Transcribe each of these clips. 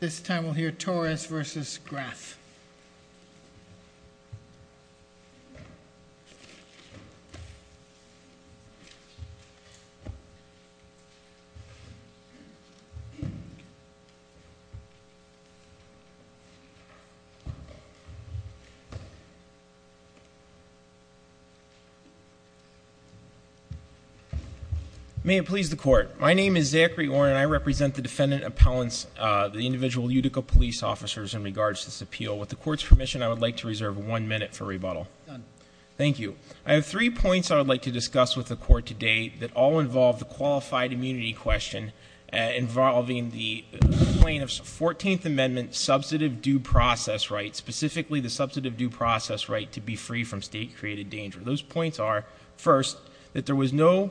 This time we'll hear Torres v. Graff. May it please the Court. My name is Zachary Orn and I represent the defendant appellants, the individual Utica police officers in regards to this appeal. With the Court's permission, I would like to reserve one minute for rebuttal. Done. Thank you. I have three points I would like to discuss with the Court today that all involve the qualified immunity question involving the complaint of 14th Amendment substantive due process right, specifically the substantive due process right to be free from state-created danger. Those points are, first, that there was no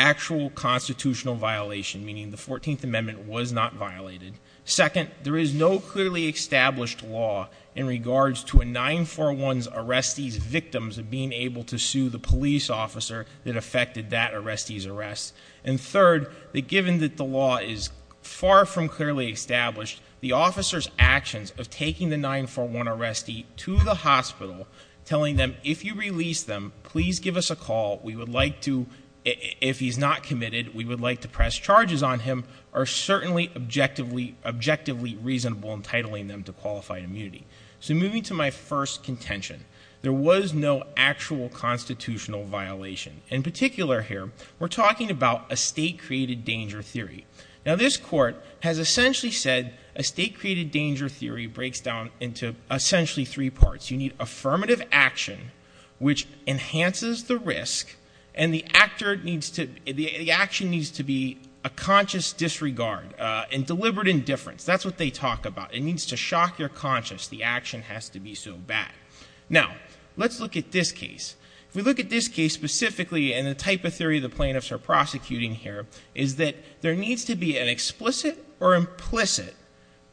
actual constitutional violation, meaning the 14th Amendment was not violated. Second, there is no clearly established law in regards to a 941's arrestee's victims of being able to sue the police officer that affected that arrestee's arrest. And third, that given that the law is far from clearly established, the officer's actions of taking the 941 arrestee to the hospital, telling them, if you release them, please give us a call. We would like to, if he's not committed, we would like to press charges on him, are certainly objectively reasonable in titling them to qualified immunity. So moving to my first contention, there was no actual constitutional violation. In particular here, we're talking about a state-created danger theory. Now, this court has essentially said a state-created danger theory breaks down into essentially three parts. You need affirmative action, which enhances the risk, and the action needs to be a conscious disregard and deliberate indifference. That's what they talk about. It needs to shock your conscience the action has to be so bad. Now, let's look at this case. If we look at this case specifically, and the type of theory the plaintiffs are prosecuting here, is that there needs to be an explicit or implicit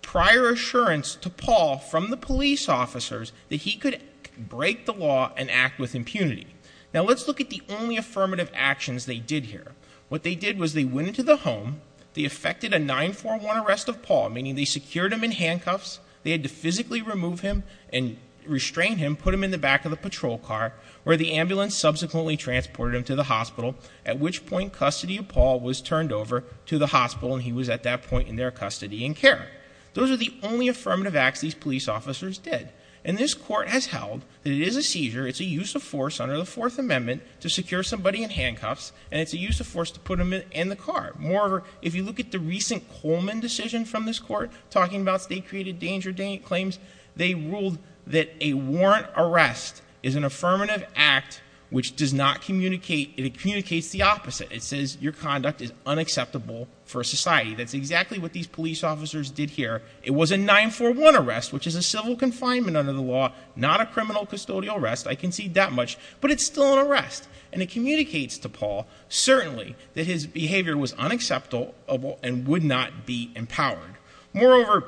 prior assurance to Paul from the police officers that he could break the law and act with impunity. Now, let's look at the only affirmative actions they did here. What they did was they went into the home, they effected a 941 arrest of Paul, meaning they secured him in handcuffs, they had to physically remove him and restrain him, put him in the back of the patrol car, where the ambulance subsequently transported him to the hospital, at which point custody of Paul was turned over to the hospital, and he was at that point in their custody in care. Those are the only affirmative acts these police officers did. And this court has held that it is a seizure, it's a use of force under the Fourth Amendment to secure somebody in handcuffs, and it's a use of force to put them in the car. Moreover, if you look at the recent Coleman decision from this court, talking about state-created danger claims, they ruled that a warrant arrest is an affirmative act which does not communicate, it communicates the opposite. It says your conduct is unacceptable for society. That's exactly what these police officers did here. It was a 941 arrest, which is a civil confinement under the law, not a criminal custodial arrest. I concede that much, but it's still an arrest. And it communicates to Paul, certainly, that his behavior was unacceptable and would not be empowered. Moreover,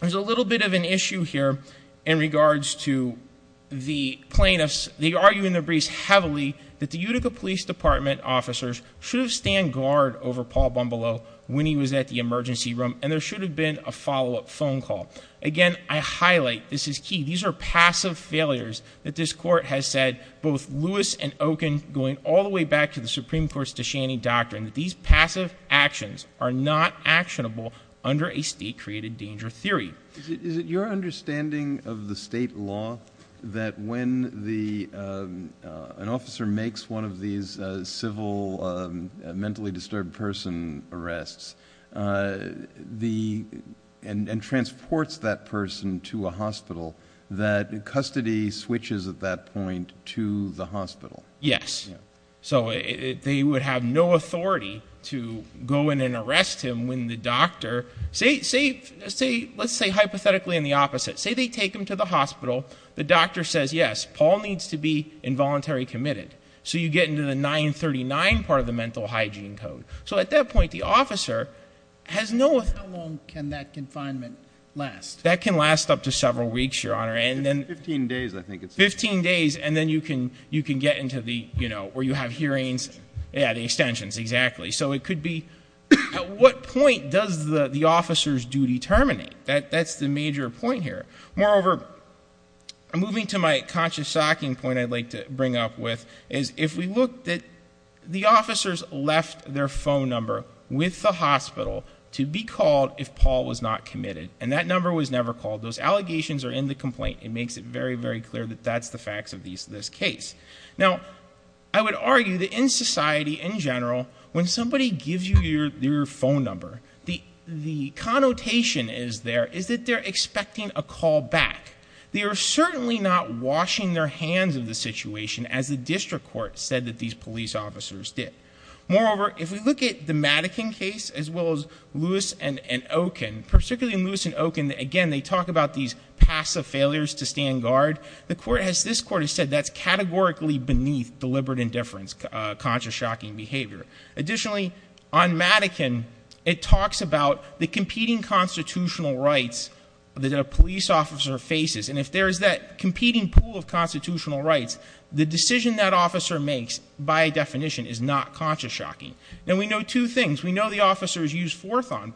there's a little bit of an issue here in regards to the plaintiffs. They argue in their briefs heavily that the Utica Police Department officers should have stand guard over Paul Bumbalo when he was at the emergency room, and there should have been a follow-up phone call. Again, I highlight this is key. These are passive failures that this court has said, both Lewis and Okun, going all the way back to the Supreme Court's Deshani doctrine, that these passive actions are not actionable under a state-created danger theory. Is it your understanding of the state law that when an officer makes one of these civil mentally disturbed person arrests and transports that person to a hospital, that custody switches at that point to the hospital? Yes. So they would have no authority to go in and arrest him when the doctor, let's say hypothetically in the opposite. Say they take him to the hospital. The doctor says, yes, Paul needs to be involuntary committed. So you get into the 939 part of the mental hygiene code. So at that point, the officer has no authority. How long can that confinement last? That can last up to several weeks, Your Honor. Fifteen days, I think. Or you have hearings. Yeah, the extensions, exactly. So it could be at what point does the officer's duty terminate? That's the major point here. Moreover, moving to my conscious stocking point I'd like to bring up with, is if we look at the officers left their phone number with the hospital to be called if Paul was not committed, and that number was never called, those allegations are in the complaint. It makes it very, very clear that that's the facts of this case. Now, I would argue that in society in general when somebody gives you their phone number, the connotation is there is that they're expecting a call back. They are certainly not washing their hands of the situation as the district court said that these police officers did. Moreover, if we look at the Madigan case as well as Lewis and Okin, particularly Lewis and Okin, again, they talk about these passive failures to stand guard. This court has said that's categorically beneath deliberate indifference, conscious stocking behavior. Additionally, on Madigan, it talks about the competing constitutional rights that a police officer faces, and if there is that competing pool of constitutional rights, the decision that officer makes by definition is not conscious stocking. Now, we know two things. We know the officers used force on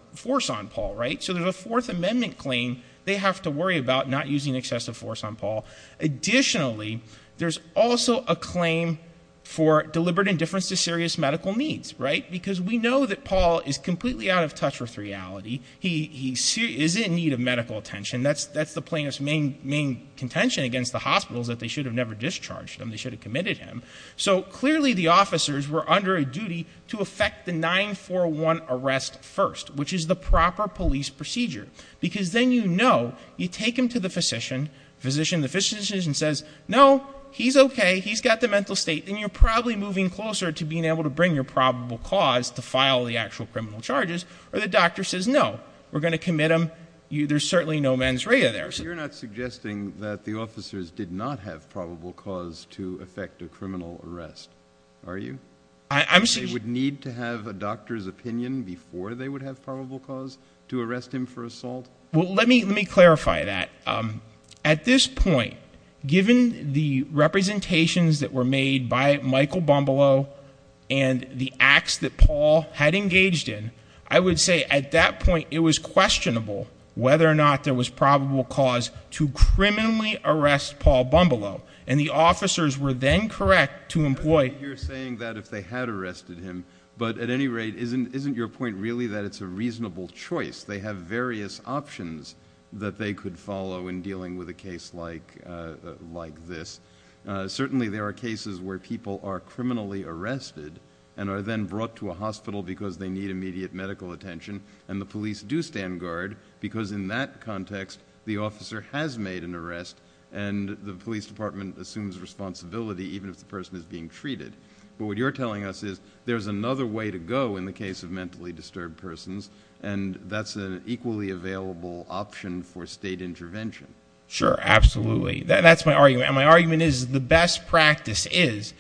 Paul, right? So there's a Fourth Amendment claim they have to worry about not using excessive force on Paul. Additionally, there's also a claim for deliberate indifference to serious medical needs, right? Because we know that Paul is completely out of touch with reality. He is in need of medical attention. That's the plaintiff's main contention against the hospitals, that they should have never discharged him. They should have committed him. So clearly the officers were under a duty to effect the 9-4-1 arrest first, which is the proper police procedure, because then you know you take him to the physician, the physician says, no, he's okay, he's got the mental state, and you're probably moving closer to being able to bring your probable cause to file the actual criminal charges, or the doctor says, no, we're going to commit him, there's certainly no mens rea there. You're not suggesting that the officers did not have probable cause to effect a criminal arrest, are you? They would need to have a doctor's opinion before they would have probable cause to arrest him for assault? Well, let me clarify that. At this point, given the representations that were made by Michael Bombalo and the acts that Paul had engaged in, I would say at that point it was questionable whether or not there was probable cause to criminally arrest Paul Bombalo, and the officers were then correct to employ... You're saying that if they had arrested him, but at any rate, isn't your point really that it's a reasonable choice? They have various options that they could follow in dealing with a case like this. Certainly there are cases where people are criminally arrested and are then brought to a hospital because they need immediate medical attention, and the police do stand guard because in that context the officer has made an arrest, and the police department assumes responsibility even if the person is being treated. But what you're telling us is there's another way to go in the case of mentally disturbed persons, and that's an equally available option for state intervention. Sure, absolutely. That's my argument, and my argument is the best practice is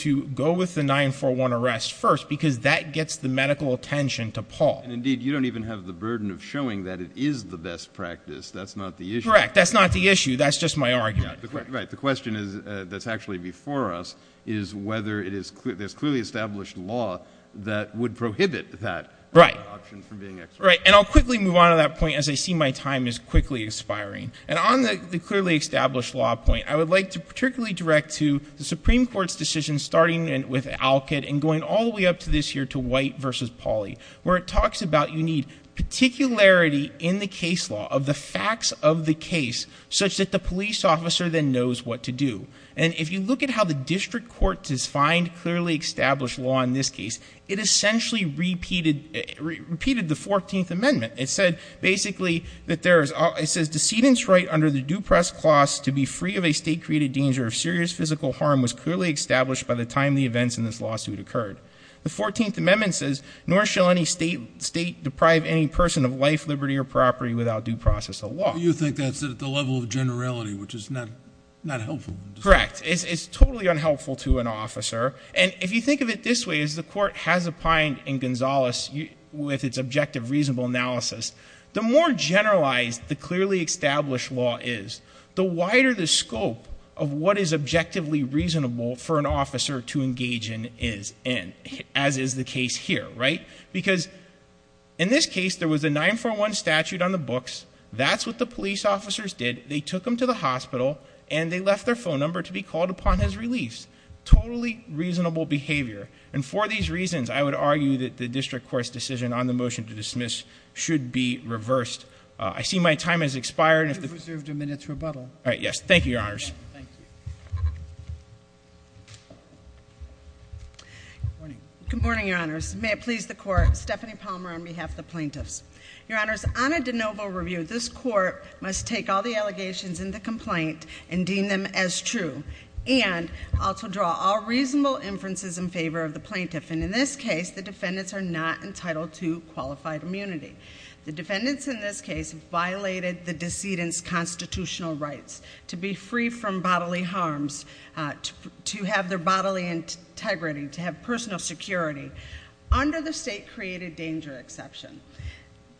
to go with the 9-4-1 arrest first because that gets the medical attention to Paul. Indeed, you don't even have the burden of showing that it is the best practice. That's not the issue. Correct. That's not the issue. That's just my argument. Right. The question that's actually before us is whether there's clearly established law that would prohibit that option from being exercised. Right, and I'll quickly move on to that point as I see my time is quickly expiring. And on the clearly established law point, I would like to particularly direct to the Supreme Court's decision starting with Alcott and going all the way up to this here to White v. Pauly, where it talks about you need particularity in the case law of the facts of the case such that the police officer then knows what to do. And if you look at how the district court defined clearly established law in this case, it essentially repeated the 14th Amendment. It said basically that there is decedent's right under the due press clause to be free of a state-created danger if serious physical harm was clearly established by the time the events in this lawsuit occurred. The 14th Amendment says, nor shall any state deprive any person of life, liberty, or property without due process of law. You think that's at the level of generality, which is not helpful. Correct. It's totally unhelpful to an officer. And if you think of it this way, as the court has opined in Gonzales with its objective reasonable analysis, the more generalized the clearly established law is, the wider the scope of what is objectively reasonable for an officer to engage in is, as is the case here, right? Because in this case, there was a 941 statute on the books. That's what the police officers did. They took him to the hospital, and they left their phone number to be called upon as relief. Totally reasonable behavior. And for these reasons, I would argue that the district court's decision on the motion to dismiss should be reversed. I see my time has expired. You have reserved a minute's rebuttal. All right, yes. Thank you, Your Honors. Thank you. Good morning. Good morning, Your Honors. May it please the Court. Stephanie Palmer on behalf of the plaintiffs. Your Honors, on a de novo review, this Court must take all the allegations in the complaint and deem them as true. And also draw all reasonable inferences in favor of the plaintiff. And in this case, the defendants are not entitled to qualified immunity. The defendants in this case violated the decedent's constitutional rights to be free from bodily harms, to have their bodily integrity, to have personal security, under the state created danger exception.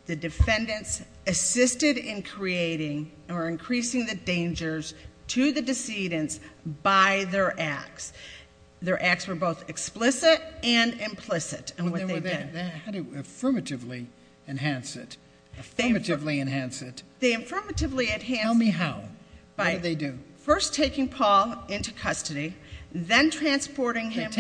The defendants assisted in creating or increasing the dangers to the decedents by their acts. Their acts were both explicit and implicit in what they did. How do you affirmatively enhance it? Affirmatively enhance it? They affirmatively enhance it- Tell me how. What do they do? First taking Paul into custody, then transporting him- As of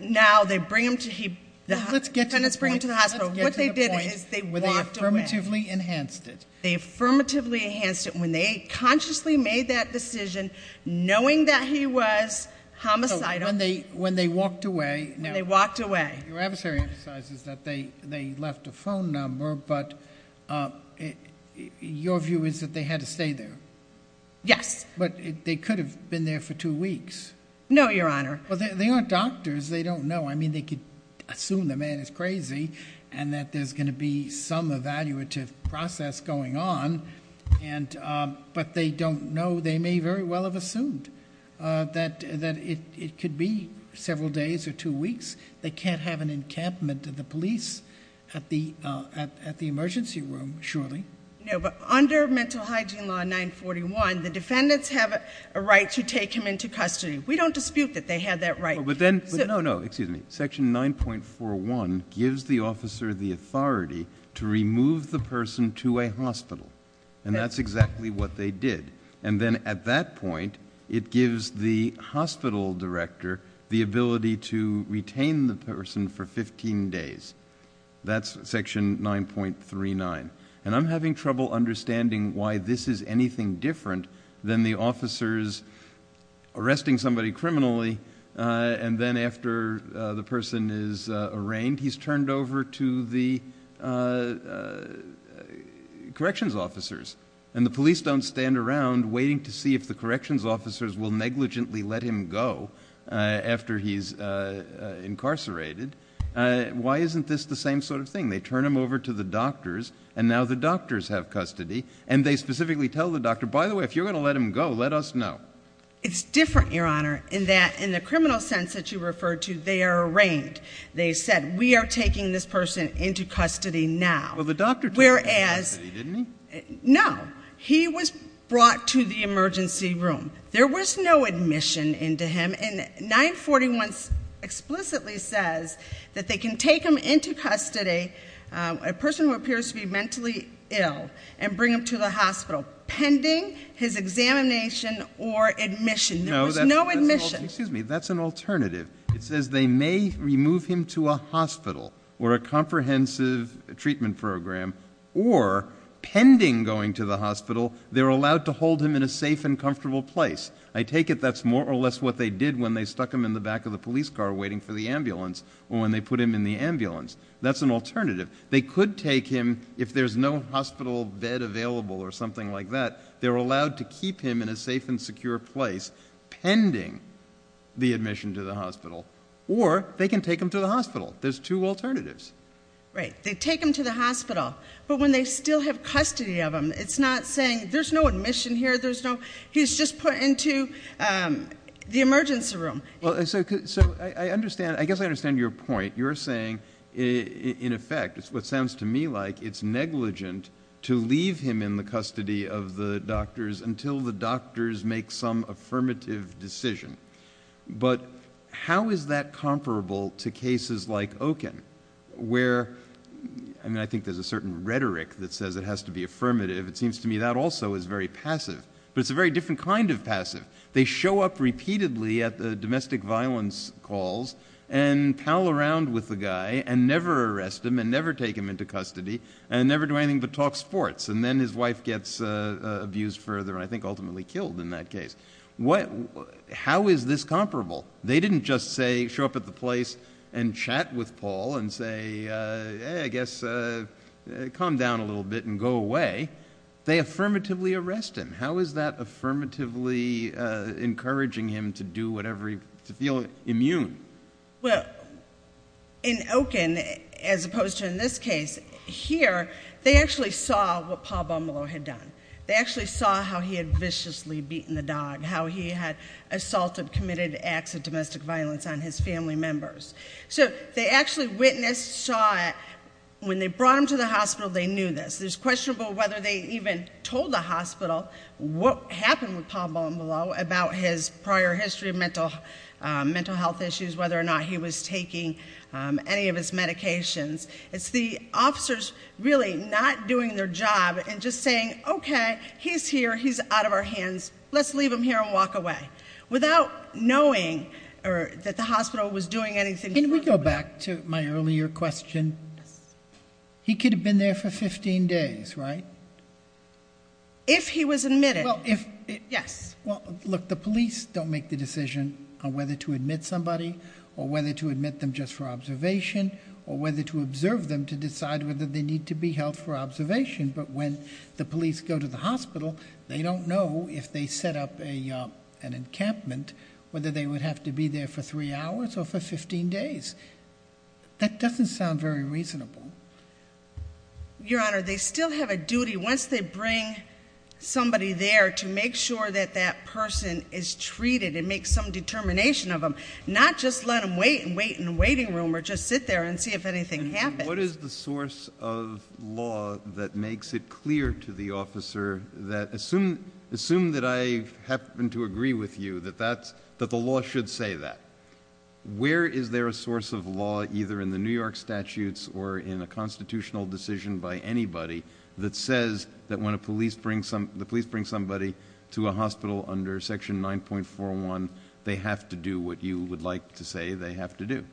now, the defendants bring him to the hospital. Let's get to the point where they affirmatively enhanced it. They affirmatively enhanced it when they consciously made that decision, knowing that he was homicidal. When they walked away- When they walked away. Your adversary emphasizes that they left a phone number, but your view is that they had to stay there? Yes. But they could have been there for two weeks. No, Your Honor. They aren't doctors. They don't know. They could assume the man is crazy and that there's going to be some evaluative process going on, but they don't know. They may very well have assumed that it could be several days or two weeks. They can't have an encampment of the police at the emergency room, surely. No, but under Mental Hygiene Law 941, the defendants have a right to take him into custody. We don't dispute that they have that right. But then- No, no. Excuse me. Section 9.41 gives the officer the authority to remove the person to a hospital, and that's exactly what they did. And then at that point, it gives the hospital director the ability to retain the person for 15 days. That's Section 9.39. And I'm having trouble understanding why this is anything different than the officers arresting somebody criminally, and then after the person is arraigned, he's turned over to the corrections officers. And the police don't stand around waiting to see if the corrections officers will negligently let him go after he's incarcerated. Why isn't this the same sort of thing? They turn him over to the doctors, and now the doctors have custody. And they specifically tell the doctor, by the way, if you're going to let him go, let us know. It's different, Your Honor, in that in the criminal sense that you referred to, they are arraigned. They said, we are taking this person into custody now. Well, the doctor took him into custody, didn't he? No. He was brought to the emergency room. There was no admission into him. And 941 explicitly says that they can take him into custody, a person who appears to be mentally ill, and bring him to the hospital pending his examination or admission. There was no admission. Excuse me. That's an alternative. It says they may remove him to a hospital or a comprehensive treatment program, or pending going to the hospital, they're allowed to hold him in a safe and comfortable place. I take it that's more or less what they did when they stuck him in the back of the police car waiting for the ambulance or when they put him in the ambulance. That's an alternative. They could take him, if there's no hospital bed available or something like that, they're allowed to keep him in a safe and secure place pending the admission to the hospital. Or they can take him to the hospital. There's two alternatives. Right. They take him to the hospital. But when they still have custody of him, it's not saying there's no admission here, he's just put into the emergency room. So I guess I understand your point. You're saying, in effect, it's what sounds to me like it's negligent to leave him in the custody of the doctors until the doctors make some affirmative decision. But how is that comparable to cases like Okun where, I mean, I think there's a certain rhetoric that says it has to be affirmative. It seems to me that also is very passive. But it's a very different kind of passive. They show up repeatedly at the domestic violence calls and pal around with the guy and never arrest him and never take him into custody and never do anything but talk sports. And then his wife gets abused further and I think ultimately killed in that case. How is this comparable? They didn't just show up at the place and chat with Paul and say, I guess calm down a little bit and go away. They affirmatively arrest him. How is that affirmatively encouraging him to do whatever, to feel immune? Well, in Okun, as opposed to in this case, here they actually saw what Paul Bumalow had done. They actually saw how he had viciously beaten the dog, how he had assaulted, committed acts of domestic violence on his family members. So they actually witnessed, saw it. When they brought him to the hospital, they knew this. It's questionable whether they even told the hospital what happened with Paul Bumalow about his prior history of mental health issues, whether or not he was taking any of his medications. It's the officers really not doing their job and just saying, okay, he's here, he's out of our hands. Let's leave him here and walk away. Without knowing that the hospital was doing anything. Can we go back to my earlier question? He could have been there for 15 days, right? If he was admitted, yes. Well, look, the police don't make the decision on whether to admit somebody or whether to admit them just for observation or whether to observe them to decide whether they need to be held for observation. But when the police go to the hospital, they don't know if they set up an encampment, whether they would have to be there for three hours or for 15 days. That doesn't sound very reasonable. Your Honor, they still have a duty once they bring somebody there to make sure that that person is treated and make some determination of them, not just let them wait and wait in the waiting room or just sit there and see if anything happens. What is the source of law that makes it clear to the officer that, assume that I happen to agree with you that the law should say that, where is there a source of law either in the New York statutes or in a constitutional decision by anybody that says that when the police bring somebody to a hospital under section 9.41, they have to do what you would like to say they have to do?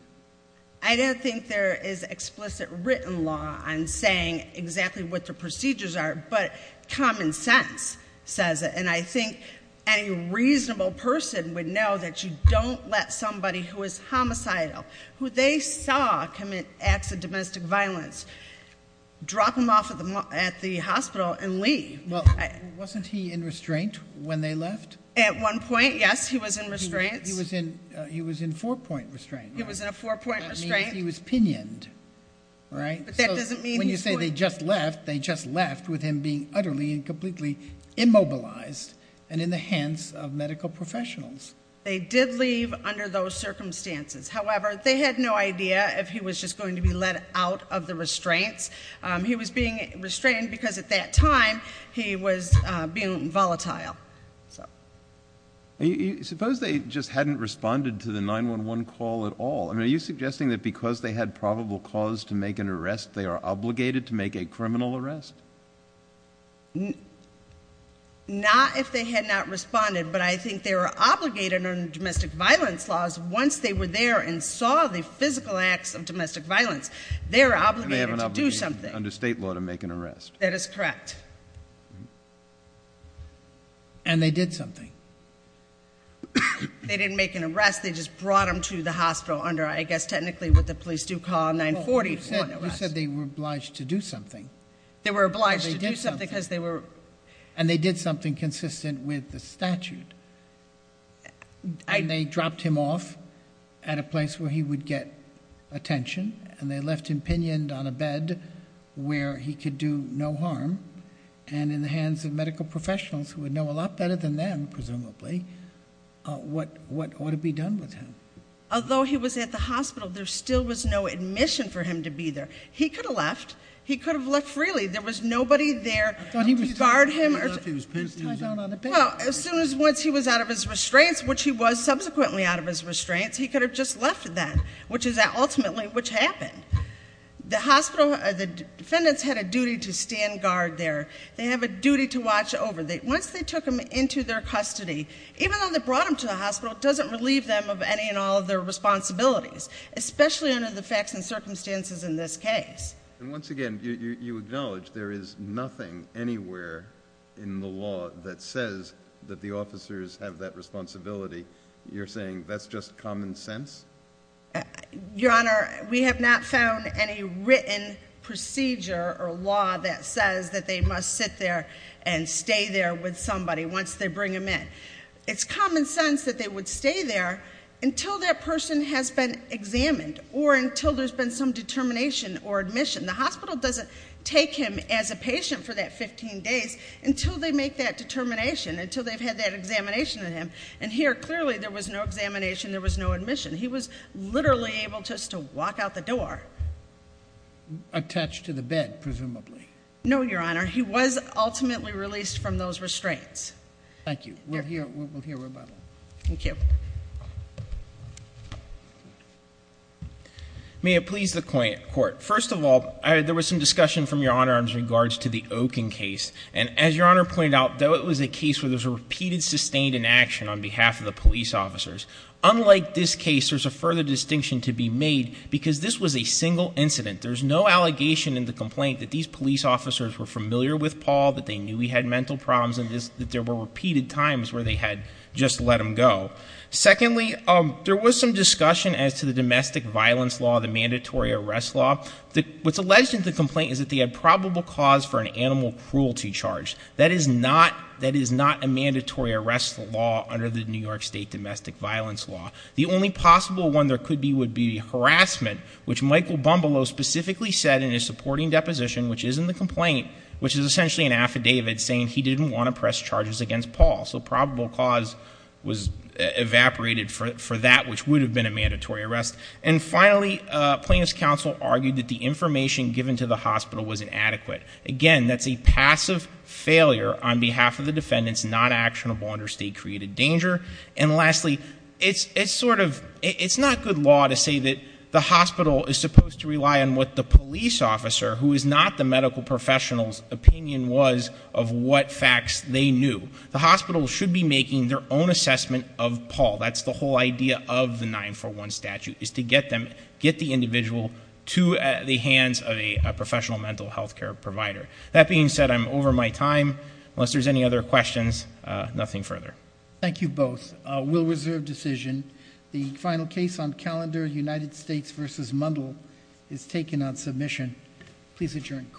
I don't think there is explicit written law on saying exactly what the procedures are, but common sense says it. And I think any reasonable person would know that you don't let somebody who is homicidal, who they saw commit acts of domestic violence, drop them off at the hospital and leave. Well, wasn't he in restraint when they left? At one point, yes, he was in restraint. He was in four-point restraint. He was in a four-point restraint. That means he was pinioned, right? But that doesn't mean- When you say they just left, they just left with him being utterly and completely immobilized and in the hands of medical professionals. They did leave under those circumstances. However, they had no idea if he was just going to be let out of the restraints. He was being restrained because, at that time, he was being volatile. Suppose they just hadn't responded to the 911 call at all. Are you suggesting that because they had probable cause to make an arrest, they are obligated to make a criminal arrest? Not if they had not responded, but I think they are obligated under domestic violence laws. Once they were there and saw the physical acts of domestic violence, they are obligated to do so. They are obligated under state law to make an arrest. That is correct. And they did something. They didn't make an arrest. They just brought him to the hospital under, I guess, technically what the police do call a 944. You said they were obliged to do something. They were obliged to do something because they were- And they did something consistent with the statute. And they dropped him off at a place where he would get attention. And they left him pinioned on a bed where he could do no harm. And in the hands of medical professionals, who would know a lot better than them, presumably, what ought to be done with him. Although he was at the hospital, there still was no admission for him to be there. He could have left. He could have left freely. There was nobody there to guard him. Well, as soon as once he was out of his restraints, which he was subsequently out of his restraints, he could have just left then. Which is ultimately what happened. The hospital, the defendants had a duty to stand guard there. They have a duty to watch over. Once they took him into their custody, even though they brought him to the hospital, it doesn't relieve them of any and all of their responsibilities. Especially under the facts and circumstances in this case. And once again, you acknowledge there is nothing anywhere in the law that says that the officers have that responsibility. You're saying that's just common sense? Your Honor, we have not found any written procedure or law that says that they must sit there and stay there with somebody once they bring him in. It's common sense that they would stay there until that person has been examined or until there's been some determination or admission. The hospital doesn't take him as a patient for that 15 days until they make that determination, until they've had that examination of him. And here, clearly, there was no examination. There was no admission. He was literally able just to walk out the door. Attached to the bed, presumably. No, Your Honor. He was ultimately released from those restraints. Thank you. We'll hear rebuttal. Thank you. May it please the court. First of all, there was some discussion from Your Honor in regards to the Oaken case. And as Your Honor pointed out, though it was a case where there was a repeated sustained inaction on behalf of the police officers, unlike this case, there's a further distinction to be made because this was a single incident. There's no allegation in the complaint that these police officers were familiar with Paul, that they knew he had mental problems, and that there were repeated times where they had just let him go. Secondly, there was some discussion as to the domestic violence law, the mandatory arrest law. What's alleged in the complaint is that they had probable cause for an animal cruelty charge. That is not a mandatory arrest law under the New York State domestic violence law. The only possible one there could be would be harassment, which Michael Bumbalow specifically said in his supporting deposition, which is in the complaint, which is essentially an affidavit saying he didn't want to press charges against Paul. So probable cause was evaporated for that, which would have been a mandatory arrest. And finally, plaintiff's counsel argued that the information given to the hospital was inadequate. Again, that's a passive failure on behalf of the defendants, not actionable under state-created danger. And lastly, it's not good law to say that the hospital is supposed to rely on what the police officer, who is not the medical professional's opinion was of what facts they knew. The hospital should be making their own assessment of Paul. That's the whole idea of the 941 statute, is to get the individual to the hands of a professional mental health care provider. That being said, I'm over my time. Unless there's any other questions, nothing further. Thank you both. We'll reserve decision. The final case on calendar United States versus Mundell is taken on submission. Please adjourn court.